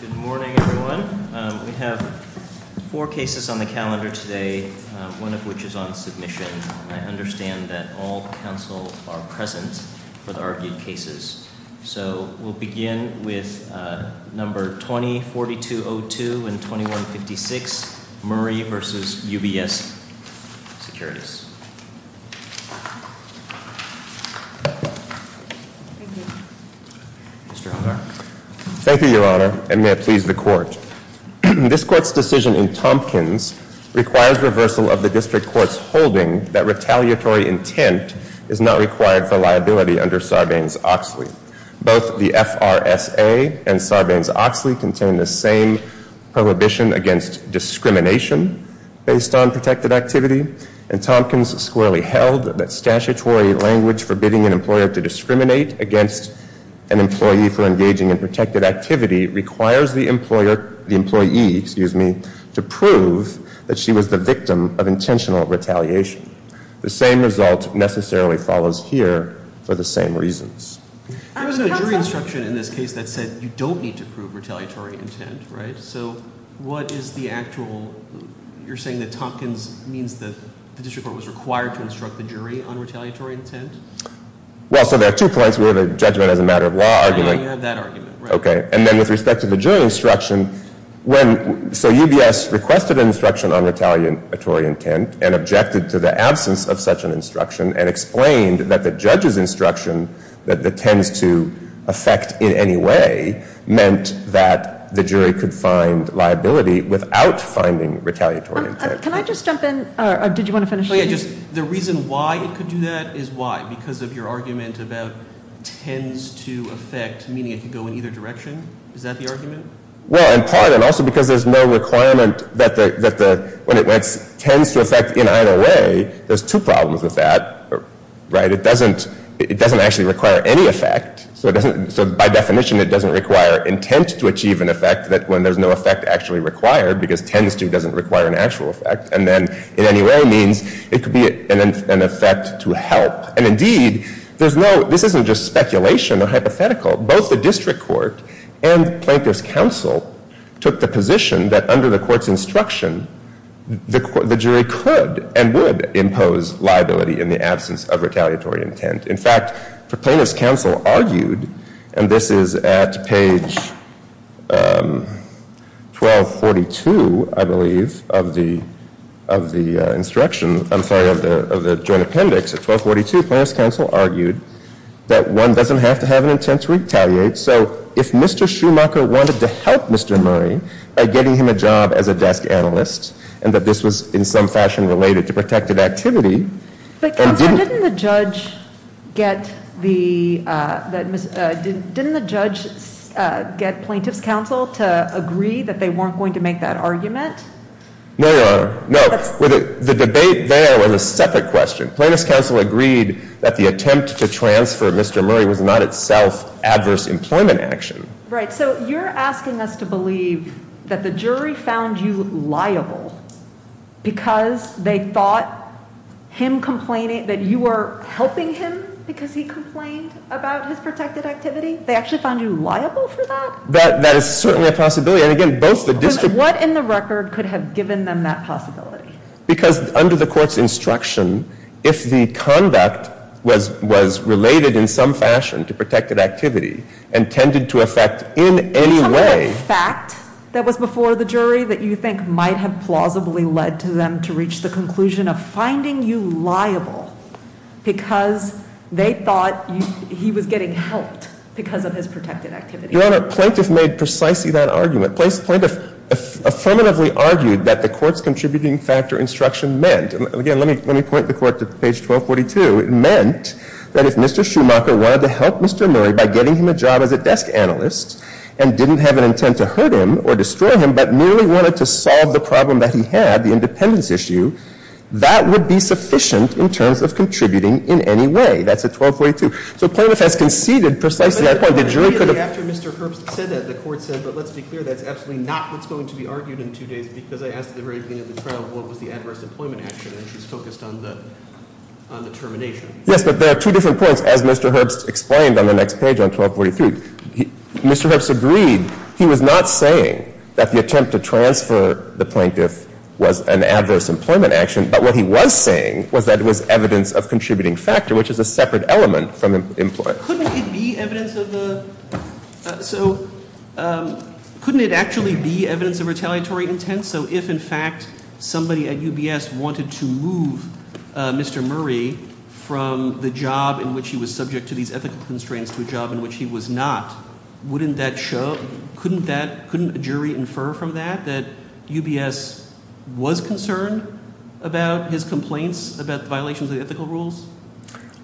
Good morning, everyone. We have four cases on the calendar today, one of which is on submission. I understand that all counsel are present for the argued cases. So we'll begin with number 204202 and 2156, Murray v. UBS Securities. Thank you, Your Honor, and may it please the Court. This Court's decision in Tompkins requires reversal of the District Court's holding that retaliatory intent is not required for liability under Sarbanes-Oxley. Both the FRSA and Sarbanes-Oxley contain the same prohibition against discrimination based on protected activity, and Tompkins squarely held that statutory language forbidding an employer to discriminate against an employee for engaging in protected activity requires the employee to prove that she was the victim of intentional retaliation. The same result necessarily follows here for the same reasons. There was no jury instruction in this case that said you don't need to prove retaliatory intent, right? So what is the actual – you're saying that Tompkins means that the District Court was required to instruct the jury on retaliatory intent? Well, so there are two points. We have a judgment as a matter of law argument. And you have that argument, right? Okay. And then with respect to the jury instruction, when – so UBS requested an instruction on retaliatory intent and objected to the absence of such an instruction and explained that the judge's instruction that it tends to affect in any way meant that the jury could find liability without finding retaliatory intent. Can I just jump in? Or did you want to finish? The reason why it could do that is why? Because of your argument about tends to affect, meaning it could go in either direction? Is that the argument? Well, in part, and also because there's no requirement that the – when it tends to affect in either way, there's two problems with that, right? It doesn't actually require any effect. So by definition, it doesn't require intent to achieve an effect when there's no effect actually required because tends to doesn't require an actual effect. And then in any way means it could be an effect to help. And indeed, there's no – this isn't just speculation or hypothetical. Both the district court and Plaintiff's counsel took the position that under the court's instruction, the jury could and would impose liability in the absence of retaliatory intent. In fact, the Plaintiff's counsel argued, and this is at page 1242, I believe, of the instruction – I'm sorry, of the joint appendix. At 1242, Plaintiff's counsel argued that one doesn't have to have an intent to retaliate. So if Mr. Schumacher wanted to help Mr. Murray by getting him a job as a desk analyst and that this was in some fashion related to protected activity – But Counselor, didn't the judge get the – didn't the judge get Plaintiff's counsel to agree that they weren't going to make that argument? No, Your Honor, no. The debate there was a separate question. Plaintiff's counsel agreed that the attempt to transfer Mr. Murray was not itself adverse employment action. Right. And so you're asking us to believe that the jury found you liable because they thought him complaining – that you were helping him because he complained about his protected activity? They actually found you liable for that? That is certainly a possibility. And again, both the district – Because what in the record could have given them that possibility? Because under the court's instruction, if the conduct was related in some fashion to protected activity and tended to affect in any way – Some of the fact that was before the jury that you think might have plausibly led to them to reach the conclusion of finding you liable because they thought he was getting helped because of his protected activity. Your Honor, Plaintiff made precisely that argument. Plaintiff affirmatively argued that the Court's contributing factor instruction meant – and again, let me point the Court to page 1242 – it meant that if Mr. Schumacher wanted to help Mr. Murray by getting him a job as a desk analyst and didn't have an intent to hurt him or destroy him, but merely wanted to solve the problem that he had, the independence issue, that would be sufficient in terms of contributing in any way. That's at 1242. So Plaintiff has conceded precisely that point. Immediately after Mr. Herbst said that, the Court said, but let's be clear that's absolutely not what's going to be argued in two days because I asked at the very beginning of the trial what was the adverse employment action, and it was focused on the termination. Yes, but there are two different points. As Mr. Herbst explained on the next page on 1243, Mr. Herbst agreed. He was not saying that the attempt to transfer the plaintiff was an adverse employment action, but what he was saying was that it was evidence of contributing factor, which is a separate element from employment. But couldn't it be evidence of the, so couldn't it actually be evidence of retaliatory intent? So if in fact somebody at UBS wanted to move Mr. Murray from the job in which he was subject to these ethical constraints to a job in which he was not, wouldn't that show, couldn't a jury infer from that, that UBS was concerned about his complaints about violations of the ethical rules?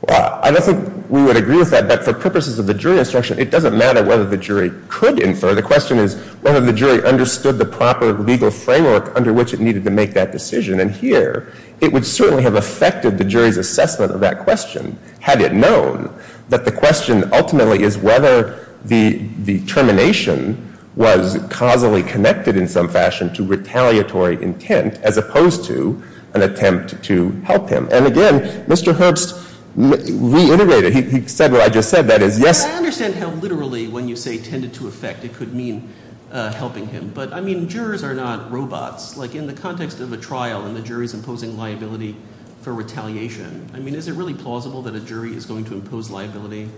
Well, I don't think we would agree with that, but for purposes of the jury instruction, it doesn't matter whether the jury could infer. The question is whether the jury understood the proper legal framework under which it needed to make that decision. And here it would certainly have affected the jury's assessment of that question had it known that the question ultimately is whether the termination was causally connected in some fashion to retaliatory intent as opposed to an attempt to help him. And again, Mr. Herbst reiterated, he said what I just said, that is yes. I understand how literally when you say tended to affect, it could mean helping him. But I mean, jurors are not robots. Like in the context of a trial and the jury's imposing liability for retaliation, I mean, is it really plausible that a jury is going to impose liability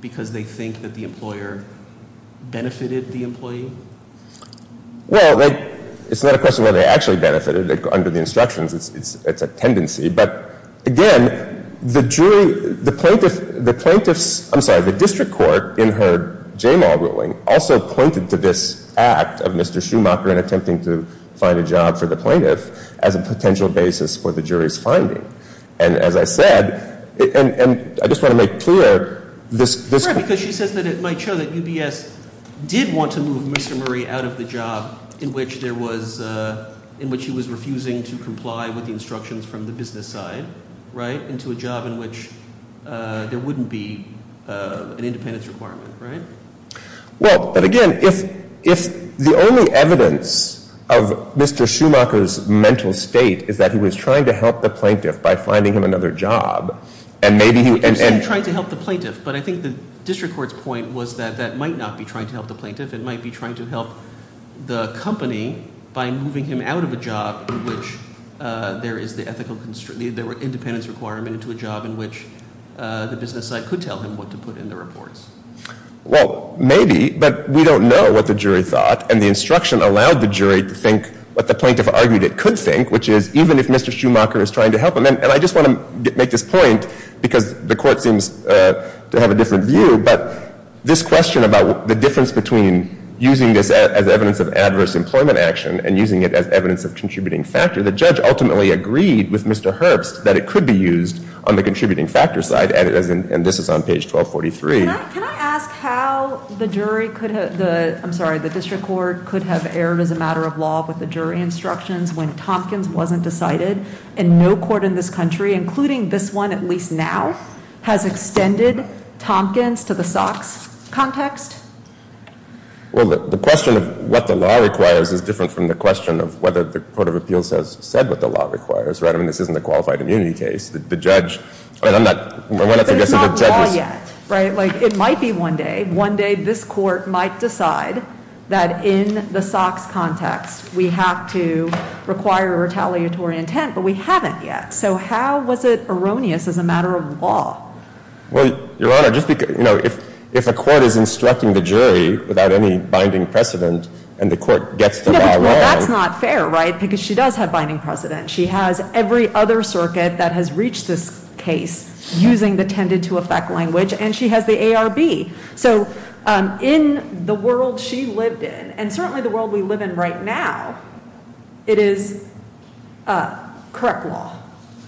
because they think that the employer benefited the employee? Well, it's not a question of whether they actually benefited. Under the instructions, it's a tendency. But again, the jury, the plaintiff's, I'm sorry, the district court in her JMAW ruling also pointed to this act of Mr. Schumacher in attempting to find a job for the plaintiff as a potential basis for the jury's finding. And as I said, and I just want to make clear this. Because she says that it might show that UBS did want to move Mr. Murray out of the job in which there was, in which he was refusing to comply with the instructions from the business side, right, into a job in which there wouldn't be an independence requirement, right? Well, but again, if the only evidence of Mr. Schumacher's mental state is that he was trying to help the plaintiff by finding him another job, You can say he was trying to help the plaintiff, but I think the district court's point was that that might not be trying to help the plaintiff. It might be trying to help the company by moving him out of a job in which there is the ethical, there were independence requirement into a job in which the business side could tell him what to put in the reports. Well, maybe, but we don't know what the jury thought. And the instruction allowed the jury to think what the plaintiff argued it could think, which is even if Mr. Schumacher is trying to help him. And I just want to make this point because the court seems to have a different view, but this question about the difference between using this as evidence of adverse employment action and using it as evidence of contributing factor, the judge ultimately agreed with Mr. Herbst that it could be used on the contributing factor side, and this is on page 1243. Can I ask how the jury could have, I'm sorry, the district court could have erred as a matter of law with the jury instructions when Tompkins wasn't decided, and no court in this country, including this one at least now, has extended Tompkins to the Sox context? Well, the question of what the law requires is different from the question of whether the Court of Appeals has said what the law requires, right? I mean, this isn't a qualified immunity case. The judge, I'm not, I'm not suggesting that judges. But it's not law yet, right? It might be one day. One day this court might decide that in the Sox context we have to require retaliatory intent, but we haven't yet. So how was it erroneous as a matter of law? Well, Your Honor, just because, you know, if a court is instructing the jury without any binding precedent, and the court gets to that law. No, but that's not fair, right? Because she does have binding precedent. She has every other circuit that has reached this case using the tended-to-effect language, and she has the ARB. So in the world she lived in, and certainly the world we live in right now, it is correct law.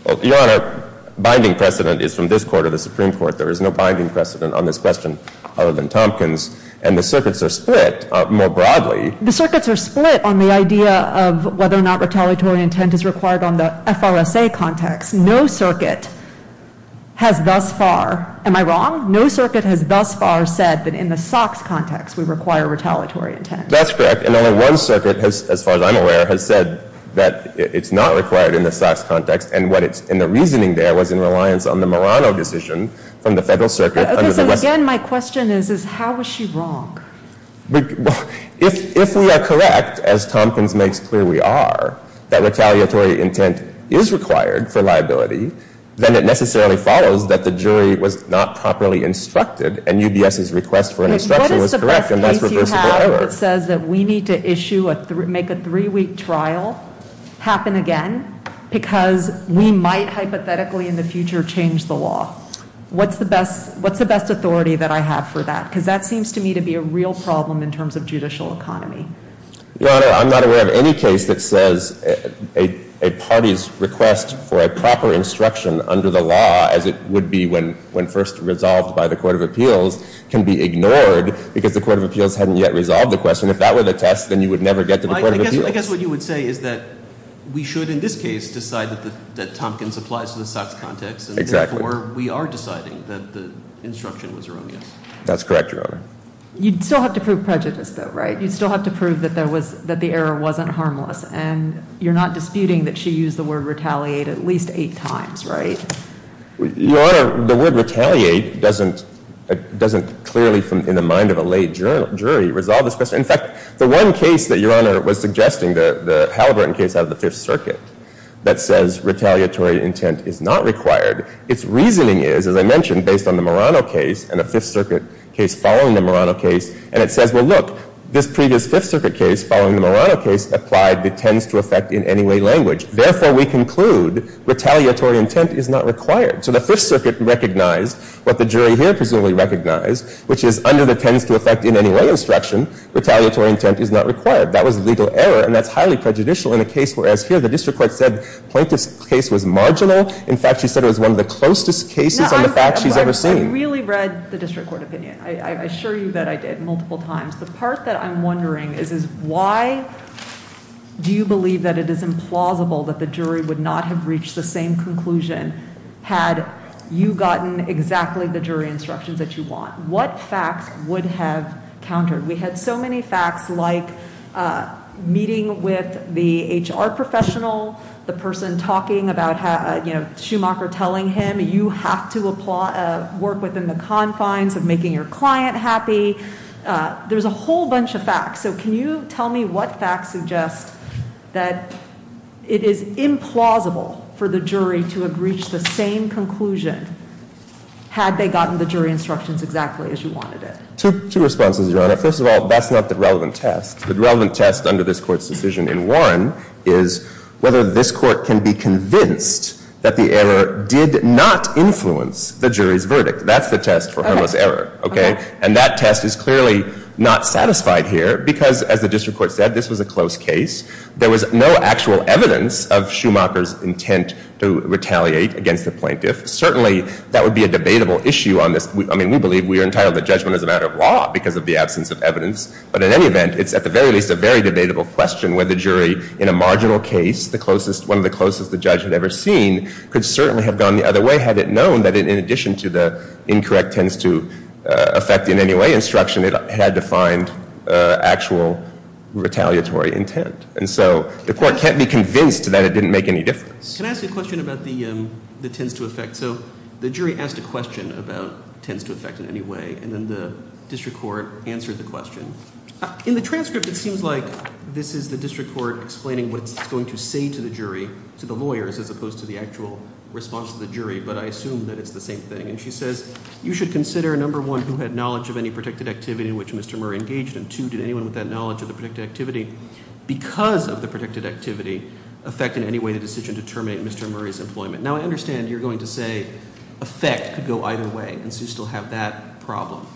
Well, Your Honor, binding precedent is from this court or the Supreme Court. There is no binding precedent on this question other than Tompkins, and the circuits are split more broadly. The circuits are split on the idea of whether or not retaliatory intent is required on the FRSA context. No circuit has thus far, am I wrong? No circuit has thus far said that in the Sox context we require retaliatory intent. That's correct. And only one circuit, as far as I'm aware, has said that it's not required in the Sox context, and the reasoning there was in reliance on the Murano decision from the Federal Circuit. Okay, so again, my question is how is she wrong? If we are correct, as Tompkins makes clear we are, that retaliatory intent is required for liability, then it necessarily follows that the jury was not properly instructed, and UBS's request for an instruction was correct, and that's reversible. What is the best case you have that says that we need to make a three-week trial happen again because we might hypothetically in the future change the law? What's the best authority that I have for that? Because that seems to me to be a real problem in terms of judicial economy. Your Honor, I'm not aware of any case that says a party's request for a proper instruction under the law, as it would be when first resolved by the Court of Appeals, can be ignored because the Court of Appeals hadn't yet resolved the question. If that were the test, then you would never get to the Court of Appeals. I guess what you would say is that we should in this case decide that Tompkins applies to the Sox context, and therefore we are deciding that the instruction was erroneous. That's correct, Your Honor. You'd still have to prove prejudice, though, right? You'd still have to prove that the error wasn't harmless, and you're not disputing that she used the word retaliate at least eight times, right? Your Honor, the word retaliate doesn't clearly, in the mind of a late jury, resolve this question. In fact, the one case that Your Honor was suggesting, the Halliburton case out of the Fifth Circuit, that says retaliatory intent is not required, its reasoning is, as I mentioned, based on the Murano case and the Fifth Circuit case following the Murano case, and it says, well, look, this previous Fifth Circuit case following the Murano case applied the tends-to-effect-in-any-way language. Therefore, we conclude retaliatory intent is not required. So the Fifth Circuit recognized what the jury here presumably recognized, which is under the tends-to-effect-in-any-way instruction, retaliatory intent is not required. That was legal error, and that's highly prejudicial in a case where, as here, the district court said Plaintiff's case was marginal. In fact, she said it was one of the closest cases on the facts she's ever seen. I really read the district court opinion. I assure you that I did, multiple times. The part that I'm wondering is why do you believe that it is implausible that the jury would not have reached the same conclusion had you gotten exactly the jury instructions that you want? What facts would have countered? We had so many facts like meeting with the HR professional, the person talking about Schumacher telling him, you have to work within the confines of making your client happy. There's a whole bunch of facts. So can you tell me what facts suggest that it is implausible for the jury to have reached the same conclusion had they gotten the jury instructions exactly as you wanted it? Two responses, Your Honor. First of all, that's not the relevant test. The relevant test under this court's decision in Warren is whether this court can be convinced that the error did not influence the jury's verdict. That's the test for harmless error. And that test is clearly not satisfied here because, as the district court said, this was a close case. There was no actual evidence of Schumacher's intent to retaliate against the plaintiff. Certainly, that would be a debatable issue on this. I mean, we believe we are entitled to judgment as a matter of law because of the absence of evidence. But in any event, it's at the very least a very debatable question whether the jury, in a marginal case, one of the closest the judge had ever seen, could certainly have gone the other way had it known that in addition to the incorrect tends to affect in any way instruction, it had to find actual retaliatory intent. And so the court can't be convinced that it didn't make any difference. Can I ask you a question about the tends to affect? So the jury asked a question about tends to affect in any way, and then the district court answered the question. In the transcript, it seems like this is the district court explaining what it's going to say to the jury, to the lawyers, as opposed to the actual response to the jury, but I assume that it's the same thing. And she says, you should consider, number one, who had knowledge of any protected activity in which Mr. Murray engaged, and two, did anyone with that knowledge of the protected activity because of the protected activity affect in any way the decision to terminate Mr. Murray's employment? Now, I understand you're going to say affect could go either way, and Sue still have that problem.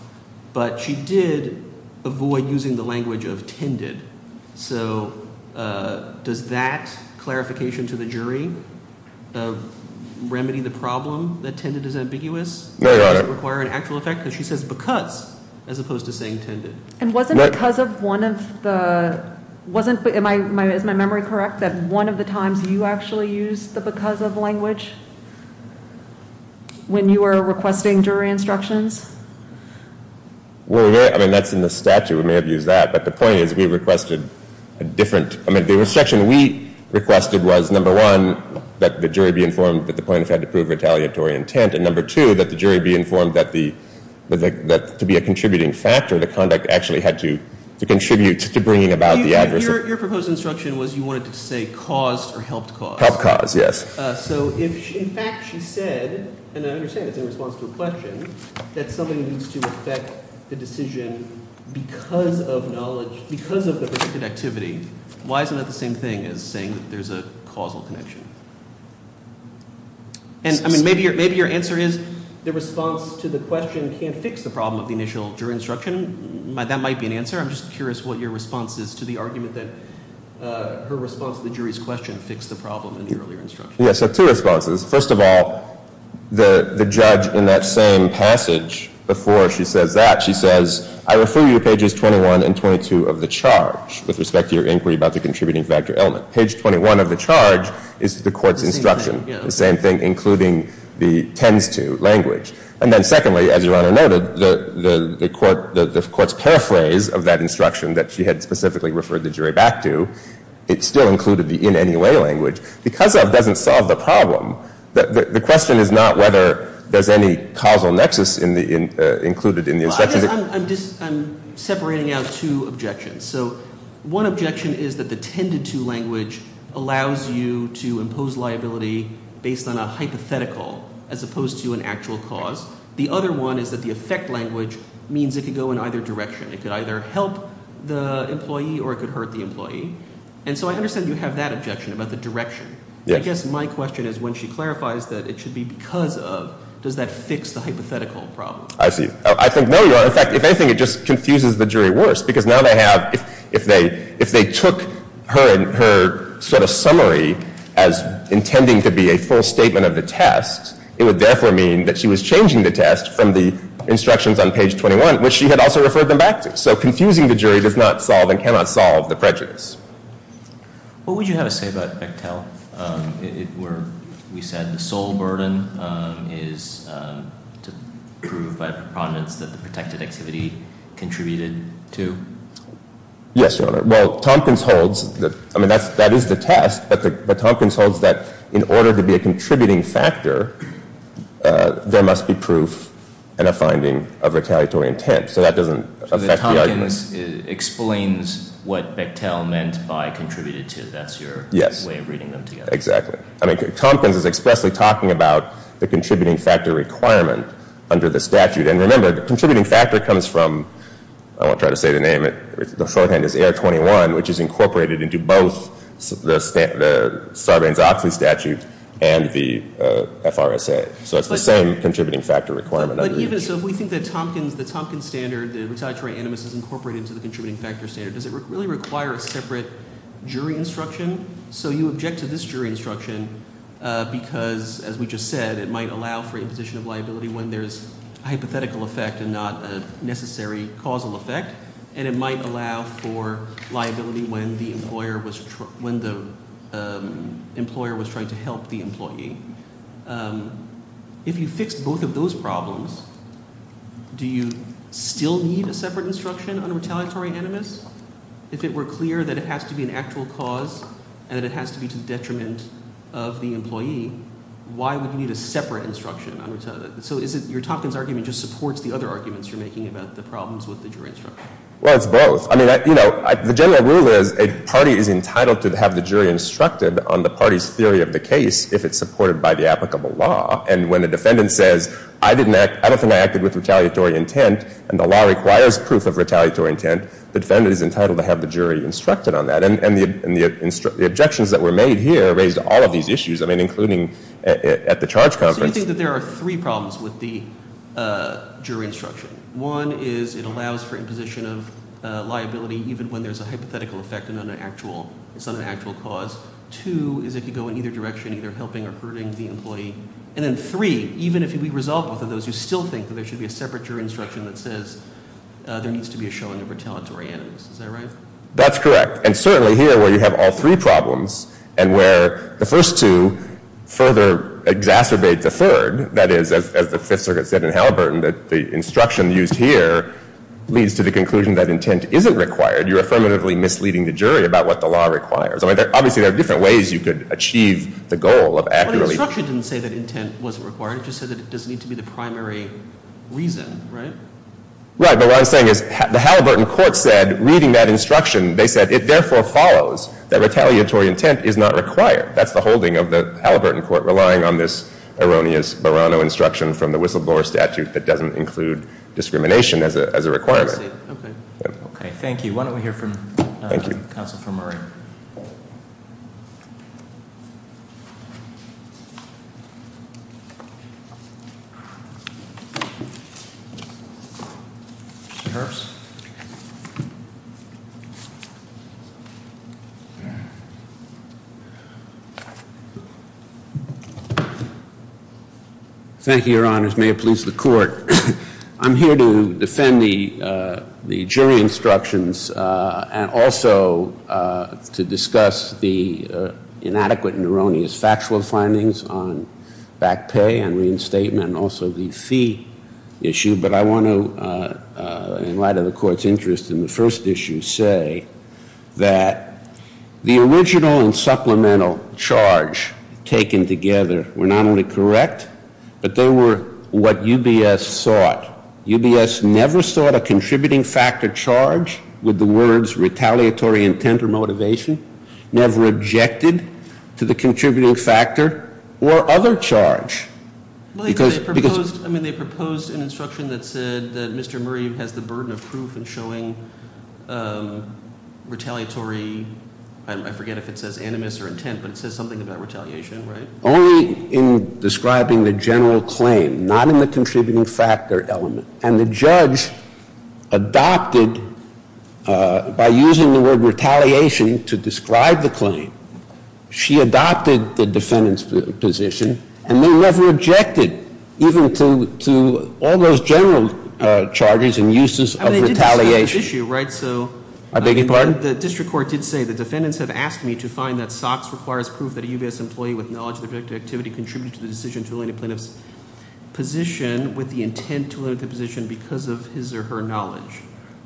But she did avoid using the language of tended. So does that clarification to the jury of remedy the problem that tended is ambiguous? Does it require an actual effect? Because she says because as opposed to saying tended. And wasn't because of one of the, wasn't, is my memory correct, that one of the times you actually used the because of language? When you were requesting jury instructions? Well, I mean, that's in the statute. We may have used that. But the point is we requested a different, I mean, the instruction we requested was, number one, that the jury be informed that the plaintiff had to prove retaliatory intent, and number two, that the jury be informed that the, that to be a contributing factor, the conduct actually had to contribute to bringing about the adverse. Your proposed instruction was you wanted to say caused or helped cause. Helped cause, yes. So if in fact she said, and I understand it's in response to a question, that something needs to affect the decision because of knowledge, because of the protected activity, why isn't that the same thing as saying that there's a causal connection? And, I mean, maybe your answer is the response to the question can't fix the problem of the initial jury instruction. That might be an answer. I'm just curious what your response is to the argument that her response to the jury's question fixed the problem in the earlier instruction. Yes, so two responses. First of all, the judge in that same passage before she says that, she says, I refer you to pages 21 and 22 of the charge with respect to your inquiry about the contributing factor element. Page 21 of the charge is the court's instruction, the same thing, including the tends to language. And then secondly, as Your Honor noted, the court's paraphrase of that instruction that she had specifically referred the jury back to, it still included the in any way language. Because of doesn't solve the problem. The question is not whether there's any causal nexus included in the instruction. I'm separating out two objections. So one objection is that the tended to language allows you to impose liability based on a hypothetical as opposed to an actual cause. The other one is that the effect language means it could go in either direction. It could either help the employee or it could hurt the employee. And so I understand you have that objection about the direction. I guess my question is when she clarifies that it should be because of, does that fix the hypothetical problem? I see. I think no, Your Honor. In fact, if anything, it just confuses the jury worse. Because now they have, if they took her sort of summary as intending to be a full statement of the test, it would therefore mean that she was changing the test from the instructions on page 21, which she had also referred them back to. So confusing the jury does not solve and cannot solve the prejudice. What would you have to say about Bechtel? We said the sole burden is to prove by a preponderance that the protected activity contributed to? Yes, Your Honor. Well, Tompkins holds that, I mean, that is the test. But Tompkins holds that in order to be a contributing factor, there must be proof and a finding of retaliatory intent. So that doesn't affect the argument. So the Tompkins explains what Bechtel meant by contributed to. That's your way of reading them together. Exactly. I mean, Tompkins is expressly talking about the contributing factor requirement under the statute. And remember, the contributing factor comes from, I won't try to say the name, the shorthand is AR-21, which is incorporated into both the Sarbanes-Oxley statute and the FRSA. So it's the same contributing factor requirement. But even so, if we think that Tompkins, the Tompkins standard, the retaliatory animus is incorporated into the contributing factor standard, does it really require a separate jury instruction? So you object to this jury instruction because, as we just said, it might allow for imposition of liability when there's a hypothetical effect and not a necessary causal effect, and it might allow for liability when the employer was trying to help the employee. If you fixed both of those problems, do you still need a separate instruction on retaliatory animus? If it were clear that it has to be an actual cause and that it has to be to the detriment of the employee, why would you need a separate instruction on retaliatory animus? So is it your Tompkins argument just supports the other arguments you're making about the problems with the jury instruction? Well, it's both. I mean, the general rule is a party is entitled to have the jury instructed on the party's theory of the case if it's supported by the applicable law. And when the defendant says, I don't think I acted with retaliatory intent, and the law requires proof of retaliatory intent, the defendant is entitled to have the jury instructed on that. And the objections that were made here raised all of these issues, I mean, including at the charge conference. So you think that there are three problems with the jury instruction. One is it allows for imposition of liability even when there's a hypothetical effect and not an actual – it's not an actual cause. Two is it could go in either direction, either helping or hurting the employee. And then three, even if we resolve both of those, you still think that there should be a separate jury instruction that says there needs to be a showing of retaliatory animus. Is that right? That's correct. And certainly here where you have all three problems and where the first two further exacerbate the third, that is, as the Fifth Circuit said in Halliburton, that the instruction used here leads to the conclusion that intent isn't required. You're affirmatively misleading the jury about what the law requires. I mean, obviously there are different ways you could achieve the goal of accurately – But the instruction didn't say that intent wasn't required. It just said that it doesn't need to be the primary reason, right? Right. But what I'm saying is the Halliburton court said, reading that instruction, they said, it therefore follows that retaliatory intent is not required. That's the holding of the Halliburton court relying on this erroneous Barano instruction from the Whistleblower Statute that doesn't include discrimination as a requirement. I see. Okay. Okay. Thank you. Why don't we hear from the counsel for Murray. Thank you. Thank you, Your Honors. May it please the court. I'm here to defend the jury instructions and also to discuss the inadequate and erroneous factual findings on back pay and reinstatement and also the fee issue. But I want to, in light of the court's interest in the first issue, say that the original and supplemental charge taken together were not only correct, but they were what UBS sought. UBS never sought a contributing factor charge with the words retaliatory intent or motivation, never objected to the contributing factor or other charge. They proposed an instruction that said that Mr. Murray has the burden of proof in showing retaliatory, I forget if it says animus or intent, but it says something about retaliation, right? Only in describing the general claim, not in the contributing factor element. And the judge adopted, by using the word retaliation to describe the claim, she adopted the defendant's position and they never objected even to all those general charges and uses of retaliation. I mean, they did describe the issue, right? I beg your pardon? The district court did say the defendants have asked me to find that SOX requires proof that a UBS employee with knowledge of the projected activity contributed to the decision to eliminate plaintiff's position with the intent to eliminate the position because of his or her knowledge.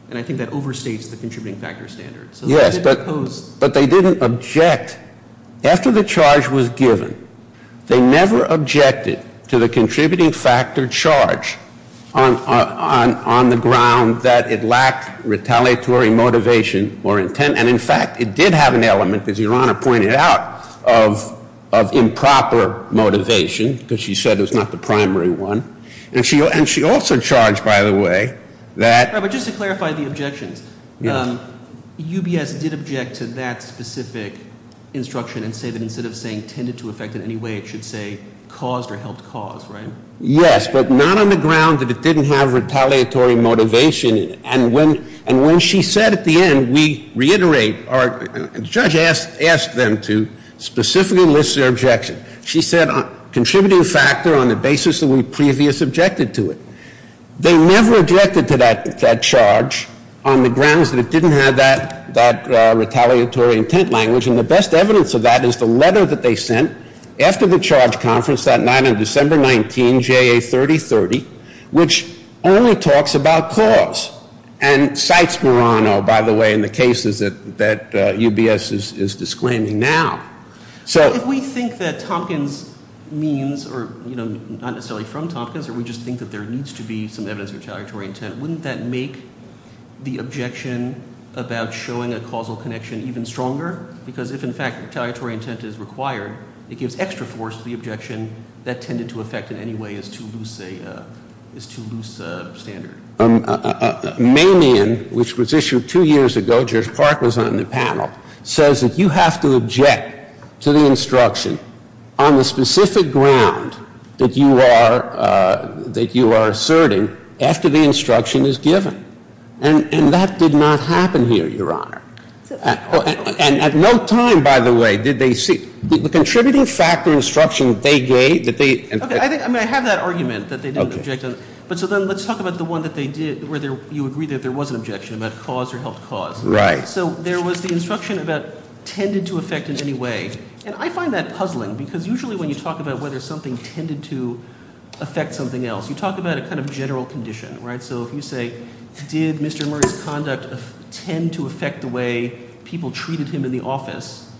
And I think that overstates the contributing factor standards. Yes, but they didn't object. After the charge was given, they never objected to the contributing factor charge on the ground that it lacked retaliatory motivation or intent. And in fact, it did have an element, as Your Honor pointed out, of improper motivation, because she said it was not the primary one. And she also charged, by the way, that- Robert, just to clarify the objections. Yes. UBS did object to that specific instruction and say that instead of saying tended to effect in any way, it should say caused or helped cause, right? Yes, but not on the ground that it didn't have retaliatory motivation. And when she said at the end, we reiterate, or the judge asked them to specifically list their objection. She said contributing factor on the basis that we previous objected to it. They never objected to that charge on the grounds that it didn't have that retaliatory intent language. And the best evidence of that is the letter that they sent after the charge conference that night on December 19, JA 3030, which only talks about cause and cites Murano, by the way, in the cases that UBS is disclaiming now. So if we think that Tompkins means, or not necessarily from Tompkins, or we just think that there needs to be some evidence of retaliatory intent, wouldn't that make the objection about showing a causal connection even stronger? Because if, in fact, retaliatory intent is required, it gives extra force to the objection that tended to effect in any way is too loose a standard. Manion, which was issued two years ago, Judge Park was on the panel, says that you have to object to the instruction on the specific ground that you are asserting after the instruction is given. And that did not happen here, Your Honor. And at no time, by the way, did they see the contributing factor instruction that they gave. Okay. I mean, I have that argument that they didn't object to it. But so then let's talk about the one that they did where you agree that there was an objection about cause or helped cause. Right. So there was the instruction about tended to effect in any way. And I find that puzzling because usually when you talk about whether something tended to effect something else, you talk about a kind of general condition, right? So if you say, did Mr. Murray's conduct tend to effect the way people treated him in the office,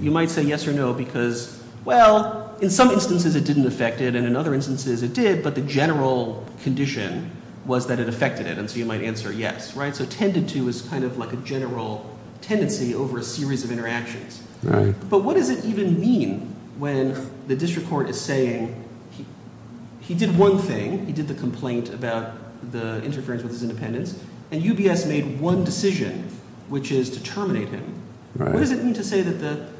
you might say yes or no because, well, in some instances it didn't effect it and in other instances it did, but the general condition was that it effected it. And so you might answer yes, right? So tended to is kind of like a general tendency over a series of interactions. Right. But what does it even mean when the district court is saying he did one thing, he did the complaint about the interference with his independence, and UBS made one decision, which is to terminate him. Right. What does it mean to say that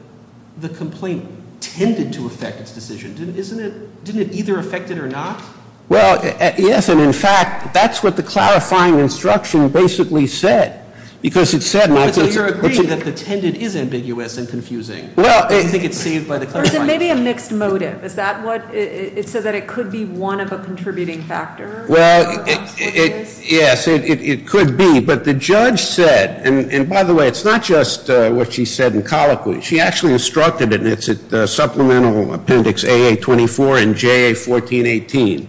the complaint tended to effect its decision? Didn't it either effect it or not? Well, yes, and in fact, that's what the clarifying instruction basically said. So you're agreeing that the tended is ambiguous and confusing. You think it's saved by the clarifying instruction. Or is it maybe a mixed motive? Is that what it said, that it could be one of a contributing factor? Well, yes, it could be. But the judge said, and by the way, it's not just what she said in colloquy. She actually instructed it, and it's at supplemental appendix AA24 and JA1418.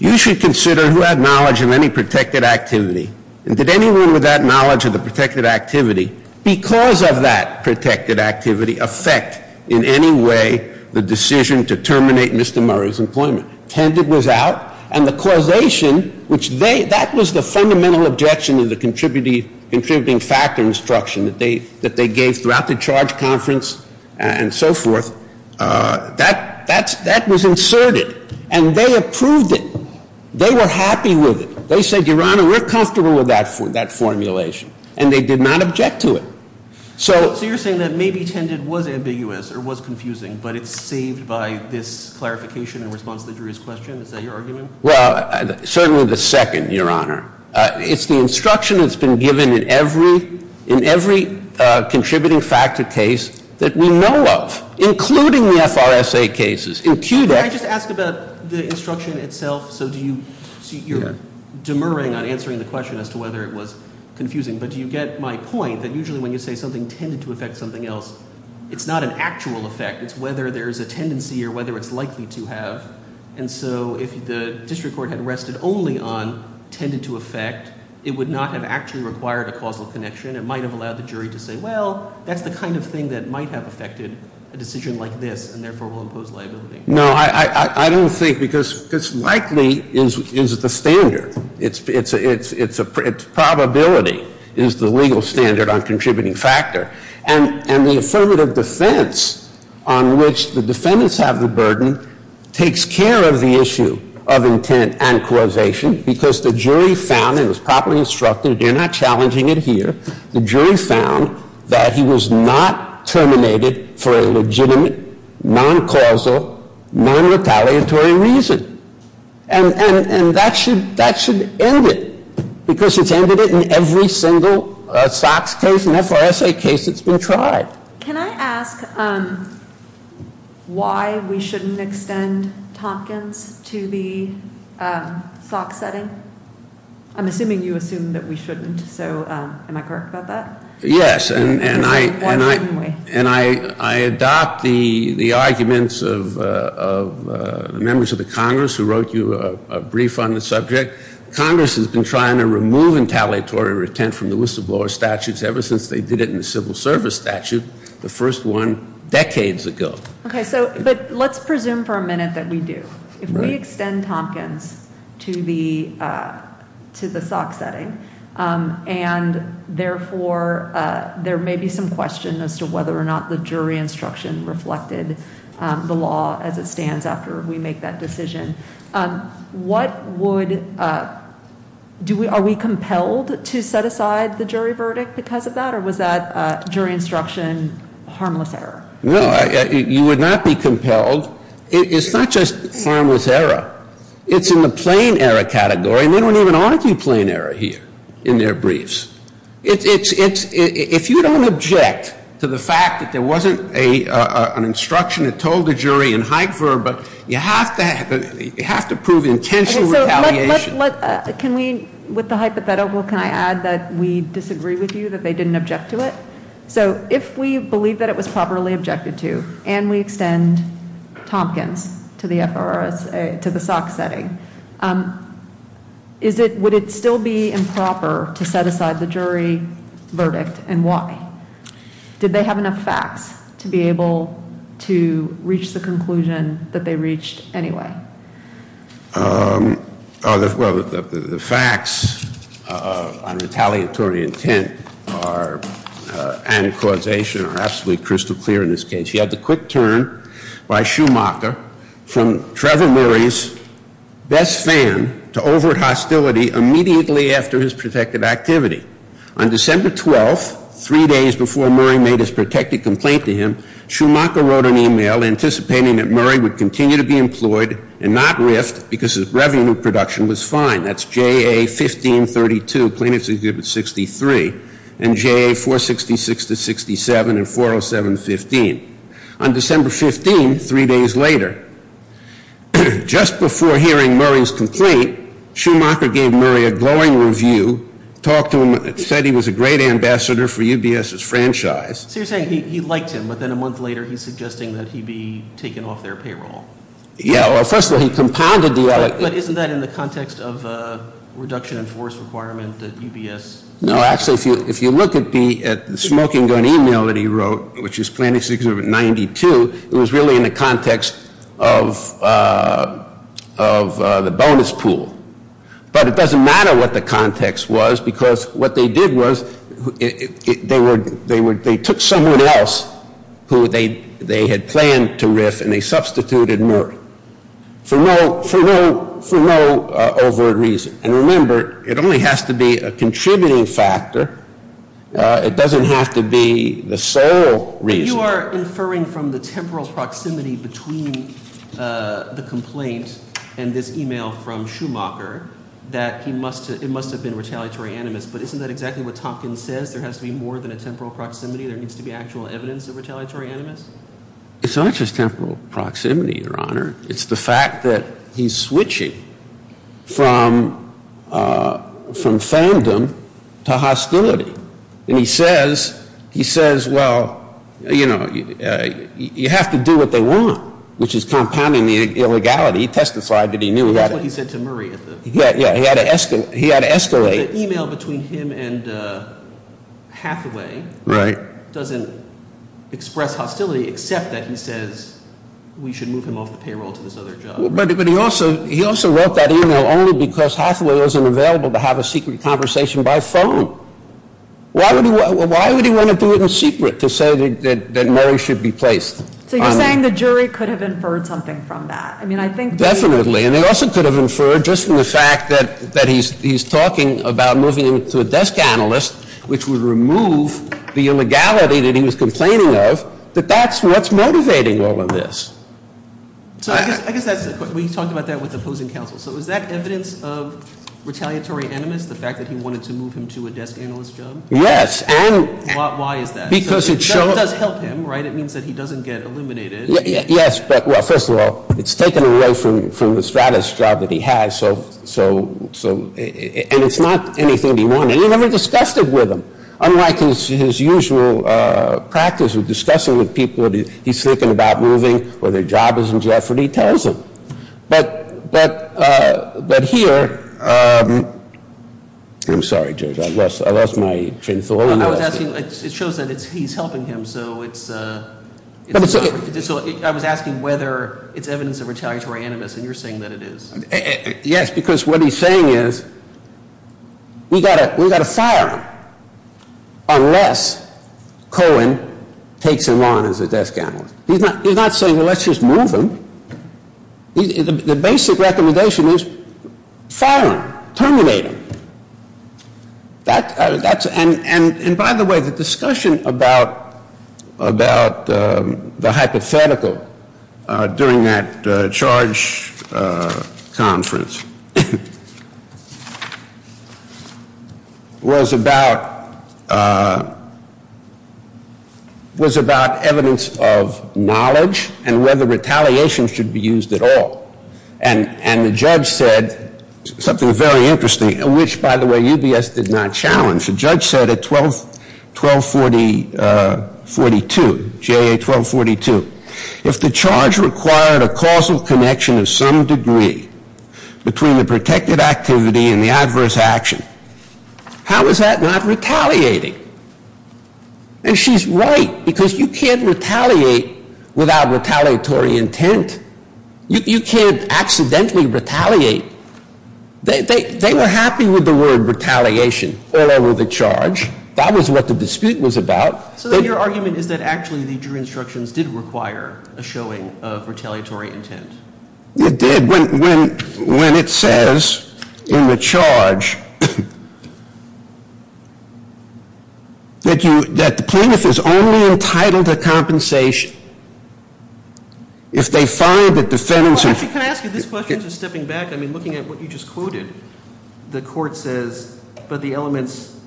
You should consider who had knowledge of any protected activity. And did anyone with that knowledge of the protected activity, because of that protected activity, effect in any way the decision to terminate Mr. Murrow's employment? Tended was out, and the causation, which they, that was the fundamental objection of the contributing factor instruction that they gave throughout the charge conference and so forth. That was inserted, and they approved it. They were happy with it. They said, Your Honor, we're comfortable with that formulation. And they did not object to it. So you're saying that maybe tended was ambiguous or was confusing, but it's saved by this clarification in response to the jury's question? Is that your argument? Well, certainly the second, Your Honor. It's the instruction that's been given in every contributing factor case that we know of, including the FRSA cases. Can I just ask about the instruction itself? So you're demurring on answering the question as to whether it was confusing, but do you get my point that usually when you say something tended to affect something else, it's not an actual effect. It's whether there's a tendency or whether it's likely to have. And so if the district court had rested only on tended to effect, it would not have actually required a causal connection. It might have allowed the jury to say, Well, that's the kind of thing that might have affected a decision like this, and therefore will impose liability. No, I don't think because likely is the standard. It's probability is the legal standard on contributing factor. And the affirmative defense on which the defendants have the burden takes care of the issue of intent and causation because the jury found, and it was properly instructed, and you're not challenging it here, the jury found that he was not terminated for a legitimate, non-causal, non-retaliatory reason. And that should end it because it's ended it in every single SOX case and FRSA case that's been tried. Can I ask why we shouldn't extend Tompkins to the SOX setting? I'm assuming you assume that we shouldn't. So am I correct about that? Yes. And I adopt the arguments of the members of the Congress who wrote you a brief on the subject. Congress has been trying to remove retaliatory intent from the whistleblower statutes ever since they did it in the civil service statute, the first one decades ago. Okay. So let's presume for a minute that we do. If we extend Tompkins to the SOX setting and, therefore, there may be some question as to whether or not the jury instruction reflected the law as it stands after we make that decision, what would, are we compelled to set aside the jury verdict because of that, or was that jury instruction harmless error? It's not just harmless error. It's in the plain error category, and they don't even argue plain error here in their briefs. It's, if you don't object to the fact that there wasn't an instruction that told the jury in Hikever, but you have to prove intentional retaliation. Can we, with the hypothetical, can I add that we disagree with you that they didn't object to it? So if we believe that it was properly objected to and we extend Tompkins to the SOX setting, would it still be improper to set aside the jury verdict and why? Did they have enough facts to be able to reach the conclusion that they reached anyway? Well, the facts on retaliatory intent and causation are absolutely crystal clear in this case. You have the quick turn by Schumacher from Trevor Murray's best fan to overt hostility immediately after his protective activity. On December 12th, three days before Murray made his protective complaint to him, Schumacher wrote an email anticipating that Murray would continue to be employed and not rift because his revenue production was fine. That's J.A. 1532, plaintiff's exhibit 63, and J.A. 466-67 and 407-15. On December 15th, three days later, just before hearing Murray's complaint, Schumacher gave Murray a glowing review, talked to him, said he was a great ambassador for UBS's franchise. So you're saying he liked him, but then a month later he's suggesting that he be taken off their payroll. Yeah, well, first of all, he compounded the other. But isn't that in the context of a reduction in force requirement that UBS? No, actually, if you look at the smoking gun email that he wrote, which is plaintiff's exhibit 92, it was really in the context of the bonus pool. But it doesn't matter what the context was, because what they did was they took someone else who they had planned to rift and they substituted Murray. For no overt reason. And remember, it only has to be a contributing factor. It doesn't have to be the sole reason. You are inferring from the temporal proximity between the complaint and this email from Schumacher that it must have been retaliatory animus. But isn't that exactly what Tompkins says? There has to be more than a temporal proximity. There needs to be actual evidence of retaliatory animus. It's not just temporal proximity, Your Honor. It's the fact that he's switching from fandom to hostility. And he says, well, you know, you have to do what they want, which is compounding the illegality. He testified that he knew that. That's what he said to Murray. Yeah, he had to escalate. The email between him and Hathaway doesn't express hostility except that he says we should move him off the payroll to this other job. But he also wrote that email only because Hathaway wasn't available to have a secret conversation by phone. Why would he want to do it in secret to say that Murray should be placed? So you're saying the jury could have inferred something from that? Definitely. And they also could have inferred just from the fact that he's talking about moving him to a desk analyst, which would remove the illegality that he was complaining of, that that's what's motivating all of this. So I guess we talked about that with opposing counsel. So is that evidence of retaliatory animus, the fact that he wanted to move him to a desk analyst job? Yes. Why is that? Because it does help him, right? It means that he doesn't get eliminated. Yes. But, well, first of all, it's taken away from the status job that he has. And it's not anything he wanted. He never discussed it with him. Unlike his usual practice of discussing with people that he's thinking about moving or their job is in jeopardy, he tells them. But here, I'm sorry, Judge, I lost my train of thought. I was asking, it shows that he's helping him. So I was asking whether it's evidence of retaliatory animus, and you're saying that it is. Yes, because what he's saying is we've got to fire him unless Cohen takes him on as a desk analyst. He's not saying, well, let's just move him. The basic recommendation is fire him, terminate him. And, by the way, the discussion about the hypothetical during that charge conference was about evidence of knowledge and whether retaliation should be used at all. And the judge said something very interesting, which, by the way, UBS did not challenge. The judge said at 1242, JA 1242, if the charge required a causal connection of some degree between the protected activity and the adverse action, how is that not retaliating? And she's right, because you can't retaliate without retaliatory intent. You can't accidentally retaliate. They were happy with the word retaliation all over the charge. That was what the dispute was about. So then your argument is that actually the jury instructions did require a showing of retaliatory intent. It did, when it says in the charge that the plaintiff is only entitled to compensation if they find that the defendants are – Well, actually, can I ask you this question, just stepping back? I mean, looking at what you just quoted, the court says, but the elements –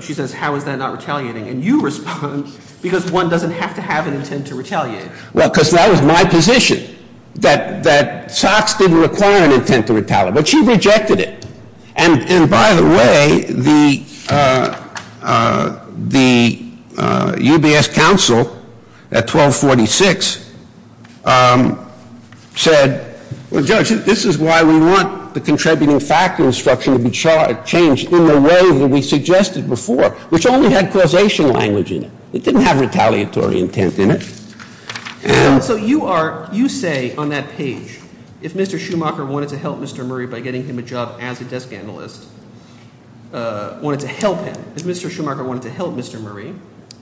she says, how is that not retaliating? And you respond, because one doesn't have to have an intent to retaliate. Well, because that was my position, that Sox didn't require an intent to retaliate, but she rejected it. And by the way, the UBS counsel at 1246 said, well, judge, this is why we want the contributing factor instruction to be changed in the way that we suggested before, which only had causation language in it. It didn't have retaliatory intent in it. So you are – you say on that page, if Mr. Schumacher wanted to help Mr. Murray by getting him a job as a desk analyst, wanted to help him – if Mr. Schumacher wanted to help Mr. Murray,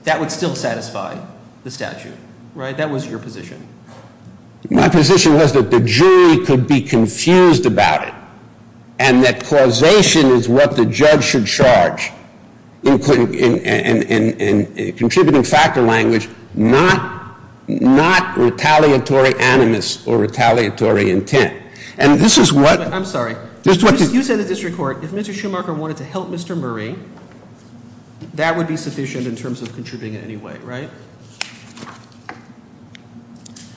that would still satisfy the statute, right? That was your position. My position was that the jury could be confused about it and that causation is what the judge should charge in contributing factor language, not retaliatory animus or retaliatory intent. And this is what – I'm sorry. You said in the district court, if Mr. Schumacher wanted to help Mr. Murray, that would be sufficient in terms of contributing in any way, right?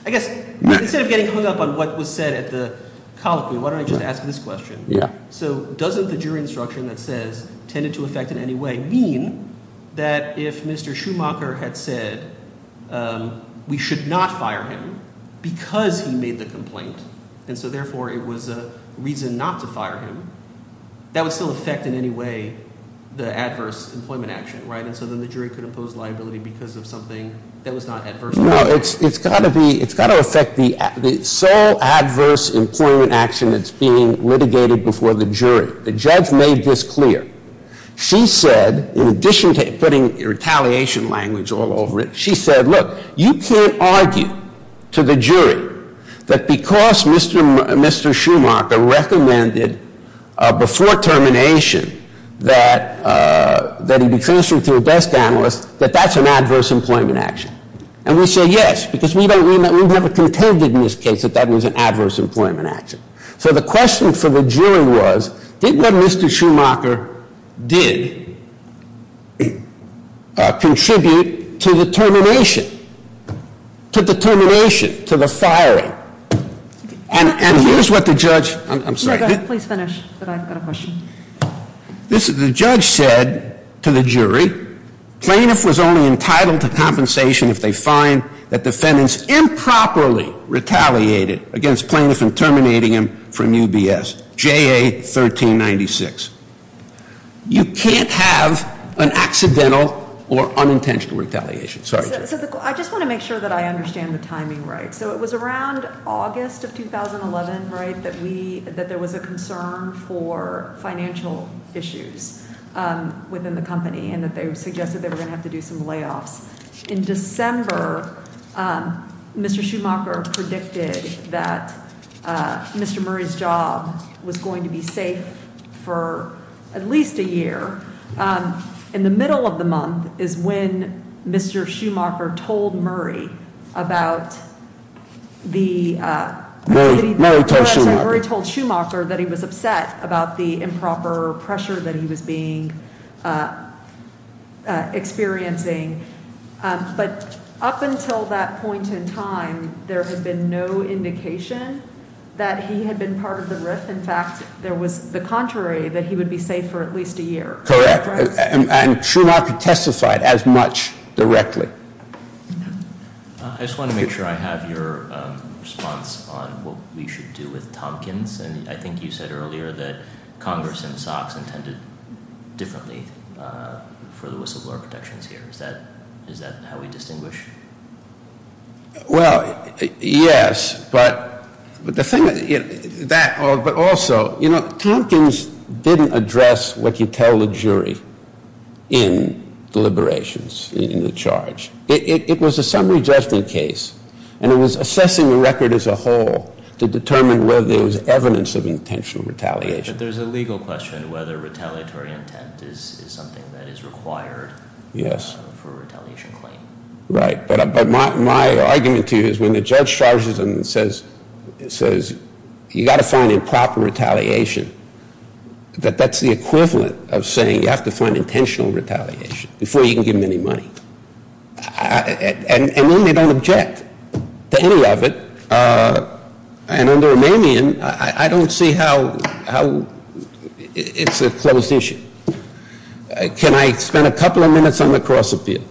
I guess instead of getting hung up on what was said at the colloquy, why don't I just ask this question? So doesn't the jury instruction that says tended to affect in any way mean that if Mr. Schumacher had said we should not fire him because he made the complaint and so therefore it was a reason not to fire him, that would still affect in any way the adverse employment action, right? No, it's got to affect the sole adverse employment action that's being litigated before the jury. The judge made this clear. She said, in addition to putting retaliation language all over it, she said, look, you can't argue to the jury that because Mr. Schumacher recommended before termination that he be transferred to a desk analyst, that that's an adverse employment action. And we say yes, because we don't – we've never contended in this case that that was an adverse employment action. So the question for the jury was, did what Mr. Schumacher did contribute to the termination, to the termination, to the firing? And here's what the judge – I'm sorry. Please finish, but I've got a question. This is – the judge said to the jury, plaintiff was only entitled to compensation if they find that defendants improperly retaliated against plaintiff in terminating him from UBS, JA 1396. You can't have an accidental or unintentional retaliation. Sorry. I just want to make sure that I understand the timing right. So it was around August of 2011, right, that we – that there was a concern for financial issues within the company and that they suggested they were going to have to do some layoffs. In December, Mr. Schumacher predicted that Mr. Murray's job was going to be safe for at least a year. In the middle of the month is when Mr. Schumacher told Murray about the – Murray told Schumacher. Murray told Schumacher that he was upset about the improper pressure that he was being – experiencing. But up until that point in time, there had been no indication that he had been part of the riff. In fact, there was the contrary, that he would be safe for at least a year. Correct. And Schumacher testified as much directly. I just want to make sure I have your response on what we should do with Tompkins. And I think you said earlier that Congress and SOX intended differently for the whistleblower protections here. Is that how we distinguish? Well, yes, but the thing – that – but also, you know, Tompkins didn't address what you tell the jury in the liberations, in the charge. It was a summary judgment case, and it was assessing the record as a whole to determine whether there was evidence of intentional retaliation. But there's a legal question whether retaliatory intent is something that is required for a retaliation claim. Right. But my argument to you is when the judge charges them and says, you've got to find improper retaliation, that that's the equivalent of saying you have to find intentional retaliation before you can give them any money. And then they don't object to any of it. And on the Romanian, I don't see how – it's a closed issue. Can I spend a couple of minutes on the cross-appeal?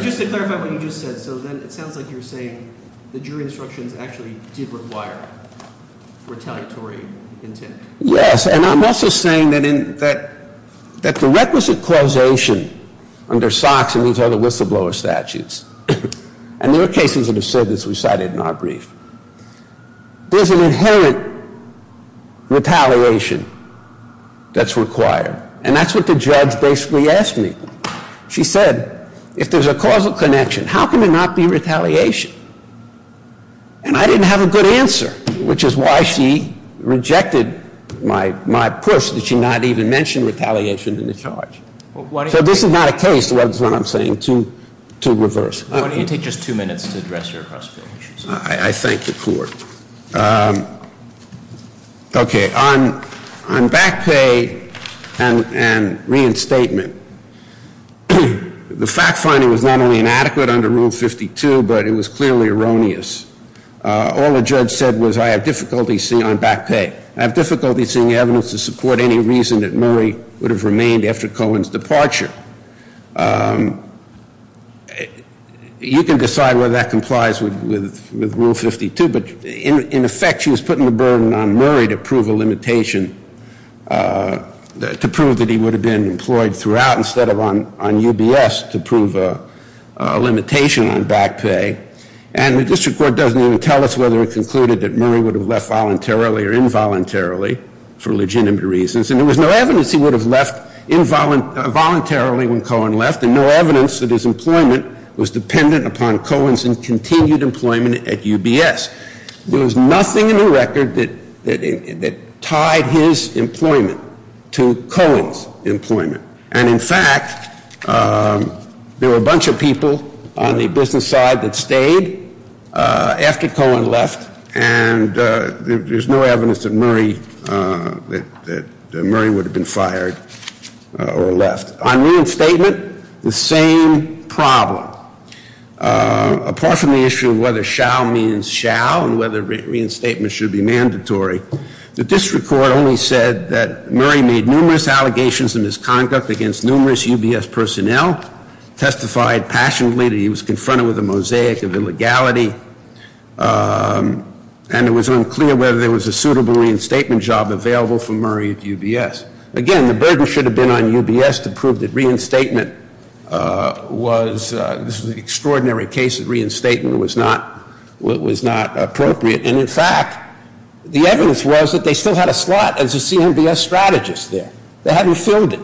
Just to clarify what you just said, so then it sounds like you're saying the jury instructions actually did require retaliatory intent. Yes, and I'm also saying that the requisite causation under SOX and these other whistleblower statutes – and there are cases that have said this, we cited in our brief – there's an inherent retaliation that's required. And that's what the judge basically asked me. She said, if there's a causal connection, how can there not be retaliation? And I didn't have a good answer, which is why she rejected my push that she not even mention retaliation in the charge. So this is not a case, is what I'm saying, to reverse. Why don't you take just two minutes to address your cross-appeal issues? I thank the Court. Okay, on back pay and reinstatement, the fact-finding was not only inadequate under Rule 52, but it was clearly erroneous. All the judge said was I have difficulty seeing on back pay. I have difficulty seeing evidence to support any reason that Murray would have remained after Cohen's departure. You can decide whether that complies with Rule 52, but in effect, she was putting the burden on Murray to prove a limitation – to prove that he would have been employed throughout instead of on UBS to prove a limitation on back pay. And the District Court doesn't even tell us whether it concluded that Murray would have left voluntarily or involuntarily for legitimate reasons. And there was no evidence he would have left involuntarily when Cohen left, and no evidence that his employment was dependent upon Cohen's continued employment at UBS. There was nothing in the record that tied his employment to Cohen's employment. And in fact, there were a bunch of people on the business side that stayed after Cohen left, and there's no evidence that Murray would have been fired or left. On reinstatement, the same problem. Apart from the issue of whether shall means shall and whether reinstatement should be mandatory, the District Court only said that Murray made numerous allegations of misconduct against numerous UBS personnel, testified passionately that he was confronted with a mosaic of illegality, and it was unclear whether there was a suitable reinstatement job available for Murray at UBS. Again, the burden should have been on UBS to prove that reinstatement was – this was an extraordinary case that reinstatement was not appropriate. And in fact, the evidence was that they still had a slot as a CMBS strategist there. They hadn't filled it.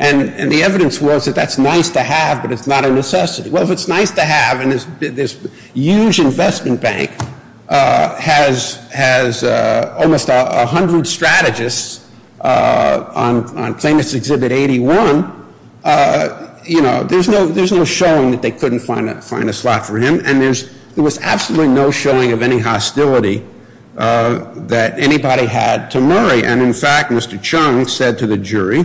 And the evidence was that that's nice to have, but it's not a necessity. Well, if it's nice to have and this huge investment bank has almost 100 strategists on plaintiff's exhibit 81, you know, there's no showing that they couldn't find a slot for him. And there was absolutely no showing of any hostility that anybody had to Murray. And in fact, Mr. Chung said to the jury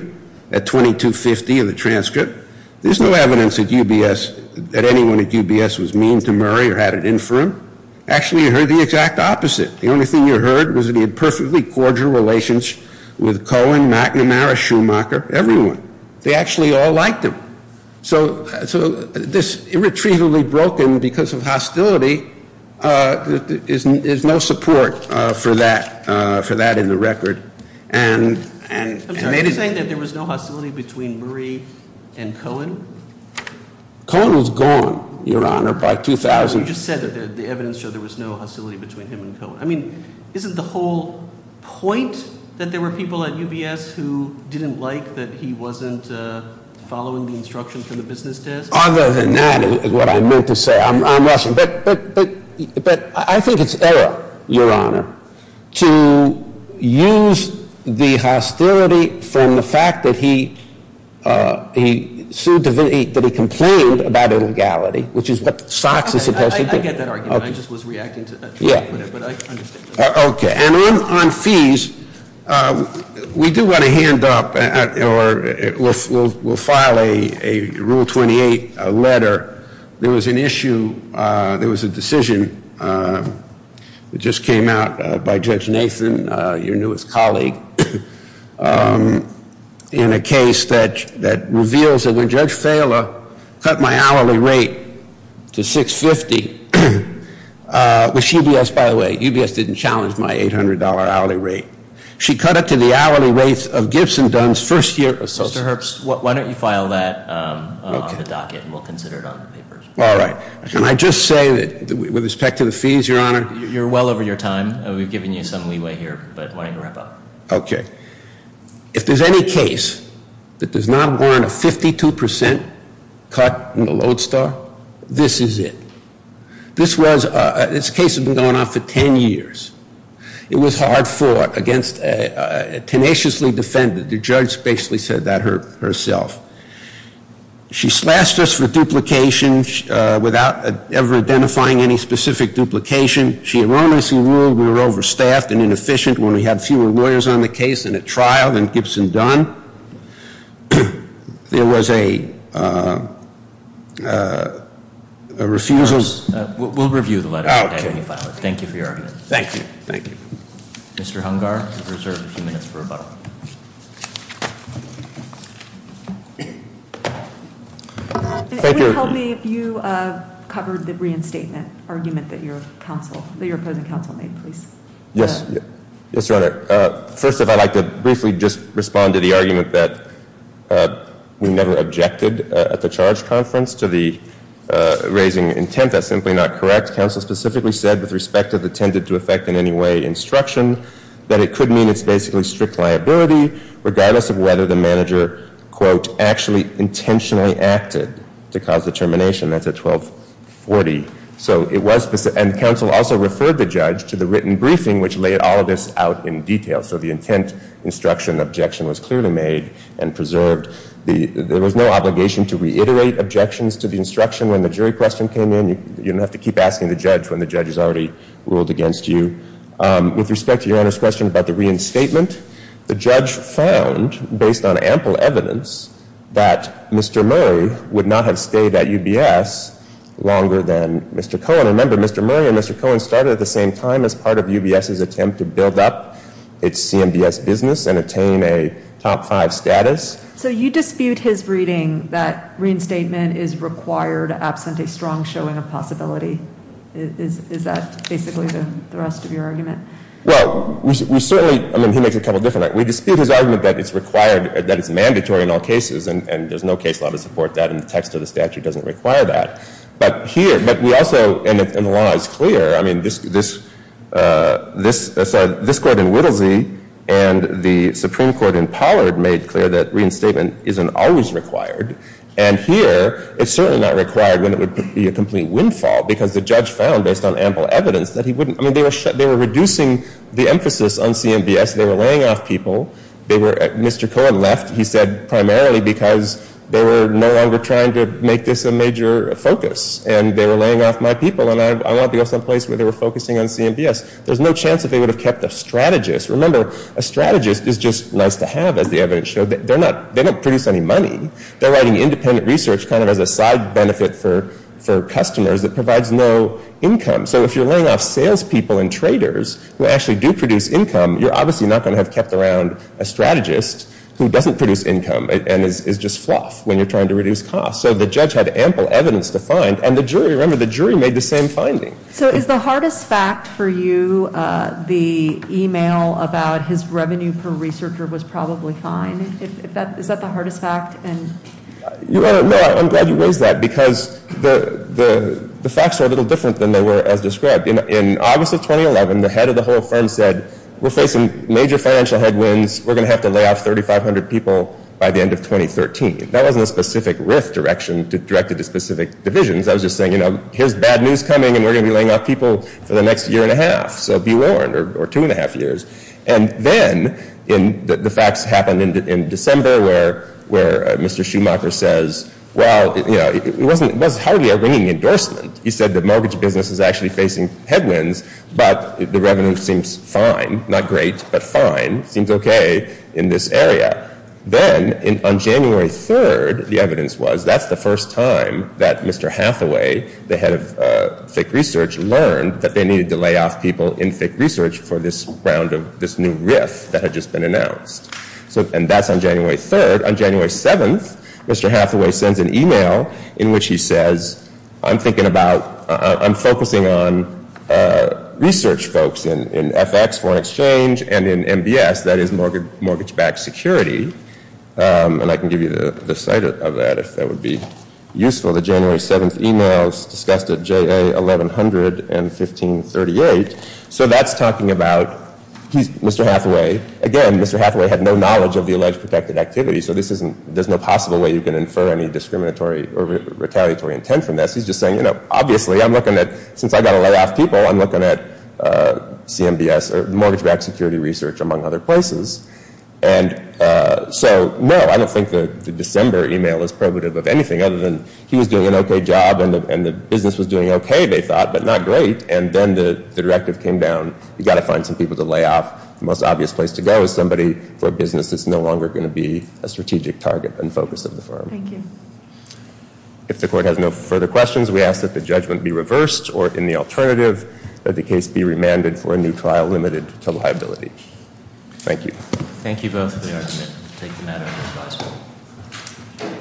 at 2250 of the transcript, there's no evidence at UBS that anyone at UBS was mean to Murray or had it in for him. Actually, you heard the exact opposite. The only thing you heard was that he had perfectly cordial relations with Cohen, McNamara, Schumacher, everyone. They actually all liked him. So this irretrievably broken because of hostility is no support for that in the record. I'm sorry, are you saying that there was no hostility between Murray and Cohen? Cohen was gone, Your Honor, by 2000. You just said that the evidence showed there was no hostility between him and Cohen. I mean, isn't the whole point that there were people at UBS who didn't like that he wasn't following the instructions from the business desk? Other than that is what I meant to say. I'm rushing. But I think it's error, Your Honor, to use the hostility from the fact that he sued, that he complained about illegality, which is what Sox is supposed to do. I get that argument. I just was reacting to that. Yeah. But I understand. Okay. And on fees, we do want to hand up or we'll file a Rule 28 letter. There was an issue, there was a decision that just came out by Judge Nathan, your newest colleague, in a case that reveals that when Judge Phaler cut my hourly rate to $650, which UBS, by the way, UBS didn't challenge my $800 hourly rate. She cut it to the hourly rates of Gibson Dunn's first year. Mr. Herbst, why don't you file that on the docket and we'll consider it on the papers. All right. Can I just say that with respect to the fees, Your Honor? You're well over your time. We've given you some leeway here, but why don't you wrap up? Okay. If there's any case that does not warrant a 52% cut in the lodestar, this is it. This case has been going on for 10 years. It was hard fought against a tenaciously defended. The judge basically said that herself. She slashed us for duplication without ever identifying any specific duplication. She erroneously ruled we were overstaffed and inefficient when we had fewer lawyers on the case in a trial than Gibson Dunn. There was a refusal. We'll review the letter. Okay. Thank you for your argument. Thank you. Thank you. Mr. Hungar, you're reserved a few minutes for rebuttal. Thank you. Would it help me if you covered the reinstatement argument that your opposing counsel made, please? Yes. Yes, Your Honor. First, if I'd like to briefly just respond to the argument that we never objected at the charge conference to the raising intent. That's simply not correct. Counsel specifically said, with respect to the tended to effect in any way instruction, that it could mean it's basically strict liability regardless of whether the manager, quote, actually intentionally acted to cause the termination. That's at 1240. So it was specific. And counsel also referred the judge to the written briefing, which laid all of this out in detail. So the intent instruction objection was clearly made and preserved. There was no obligation to reiterate objections to the instruction when the jury question came in. You don't have to keep asking the judge when the judge has already ruled against you. With respect to Your Honor's question about the reinstatement, the judge found, based on ample evidence, that Mr. Murray would not have stayed at UBS longer than Mr. Cohen. Remember, Mr. Murray and Mr. Cohen started at the same time as part of UBS's attempt to build up its CMBS business and attain a top five status. So you dispute his reading that reinstatement is required absent a strong showing of possibility. Is that basically the rest of your argument? Well, we certainly – I mean, he makes a couple different – we dispute his argument that it's required, that it's mandatory in all cases, and there's no case law to support that. And the text of the statute doesn't require that. But here – but we also – and the law is clear. I mean, this court in Whittlesey and the Supreme Court in Pollard made clear that reinstatement isn't always required. And here, it's certainly not required when it would be a complete windfall, because the judge found, based on ample evidence, that he wouldn't – I mean, they were reducing the emphasis on CMBS. They were laying off people. They were – Mr. Cohen left, he said, primarily because they were no longer trying to make this a major focus. And they were laying off my people, and I want to go someplace where they were focusing on CMBS. There's no chance that they would have kept a strategist. Remember, a strategist is just nice to have, as the evidence showed. They're not – they don't produce any money. They're writing independent research kind of as a side benefit for customers that provides no income. So if you're laying off salespeople and traders who actually do produce income, you're obviously not going to have kept around a strategist who doesn't produce income and is just fluff when you're trying to reduce costs. So the judge had ample evidence to find, and the jury – remember, the jury made the same finding. So is the hardest fact for you, the email about his revenue per researcher was probably fine? Is that the hardest fact? No, I'm glad you raised that, because the facts are a little different than they were as described. In August of 2011, the head of the whole firm said, we're facing major financial headwinds. We're going to have to lay off 3,500 people by the end of 2013. That wasn't a specific RIF direction directed to specific divisions. I was just saying, you know, here's bad news coming, and we're going to be laying off people for the next year and a half. So be warned, or two and a half years. And then the facts happened in December where Mr. Schumacher says, well, you know, it was hardly a ringing endorsement. He said the mortgage business is actually facing headwinds, but the revenue seems fine. Not great, but fine. Seems okay in this area. Then on January 3rd, the evidence was that's the first time that Mr. Hathaway, the head of FIC research, learned that they needed to lay off people in FIC research for this new RIF that had just been announced. And that's on January 3rd. On January 7th, Mr. Hathaway sends an email in which he says, I'm focusing on research folks in FX, foreign exchange, and in MBS, that is mortgage-backed security. And I can give you the site of that if that would be useful. The January 7th email was discussed at JA 1100 and 1538. So that's talking about Mr. Hathaway. Again, Mr. Hathaway had no knowledge of the alleged protected activity, so there's no possible way you can infer any discriminatory or retaliatory intent from this. He's just saying, you know, obviously I'm looking at, since I've got to lay off people, I'm looking at CMBS or mortgage-backed security research, among other places. And so, no, I don't think the December email is probative of anything other than he was doing an okay job and the business was doing okay, they thought, but not great. And then the directive came down, you've got to find some people to lay off. The most obvious place to go is somebody for a business that's no longer going to be a strategic target and focus of the firm. Thank you. If the Court has no further questions, we ask that the judgment be reversed or, in the alternative, that the case be remanded for a new trial limited to liability. Thank you. Thank you both for the argument. We'll take the matter under advisory.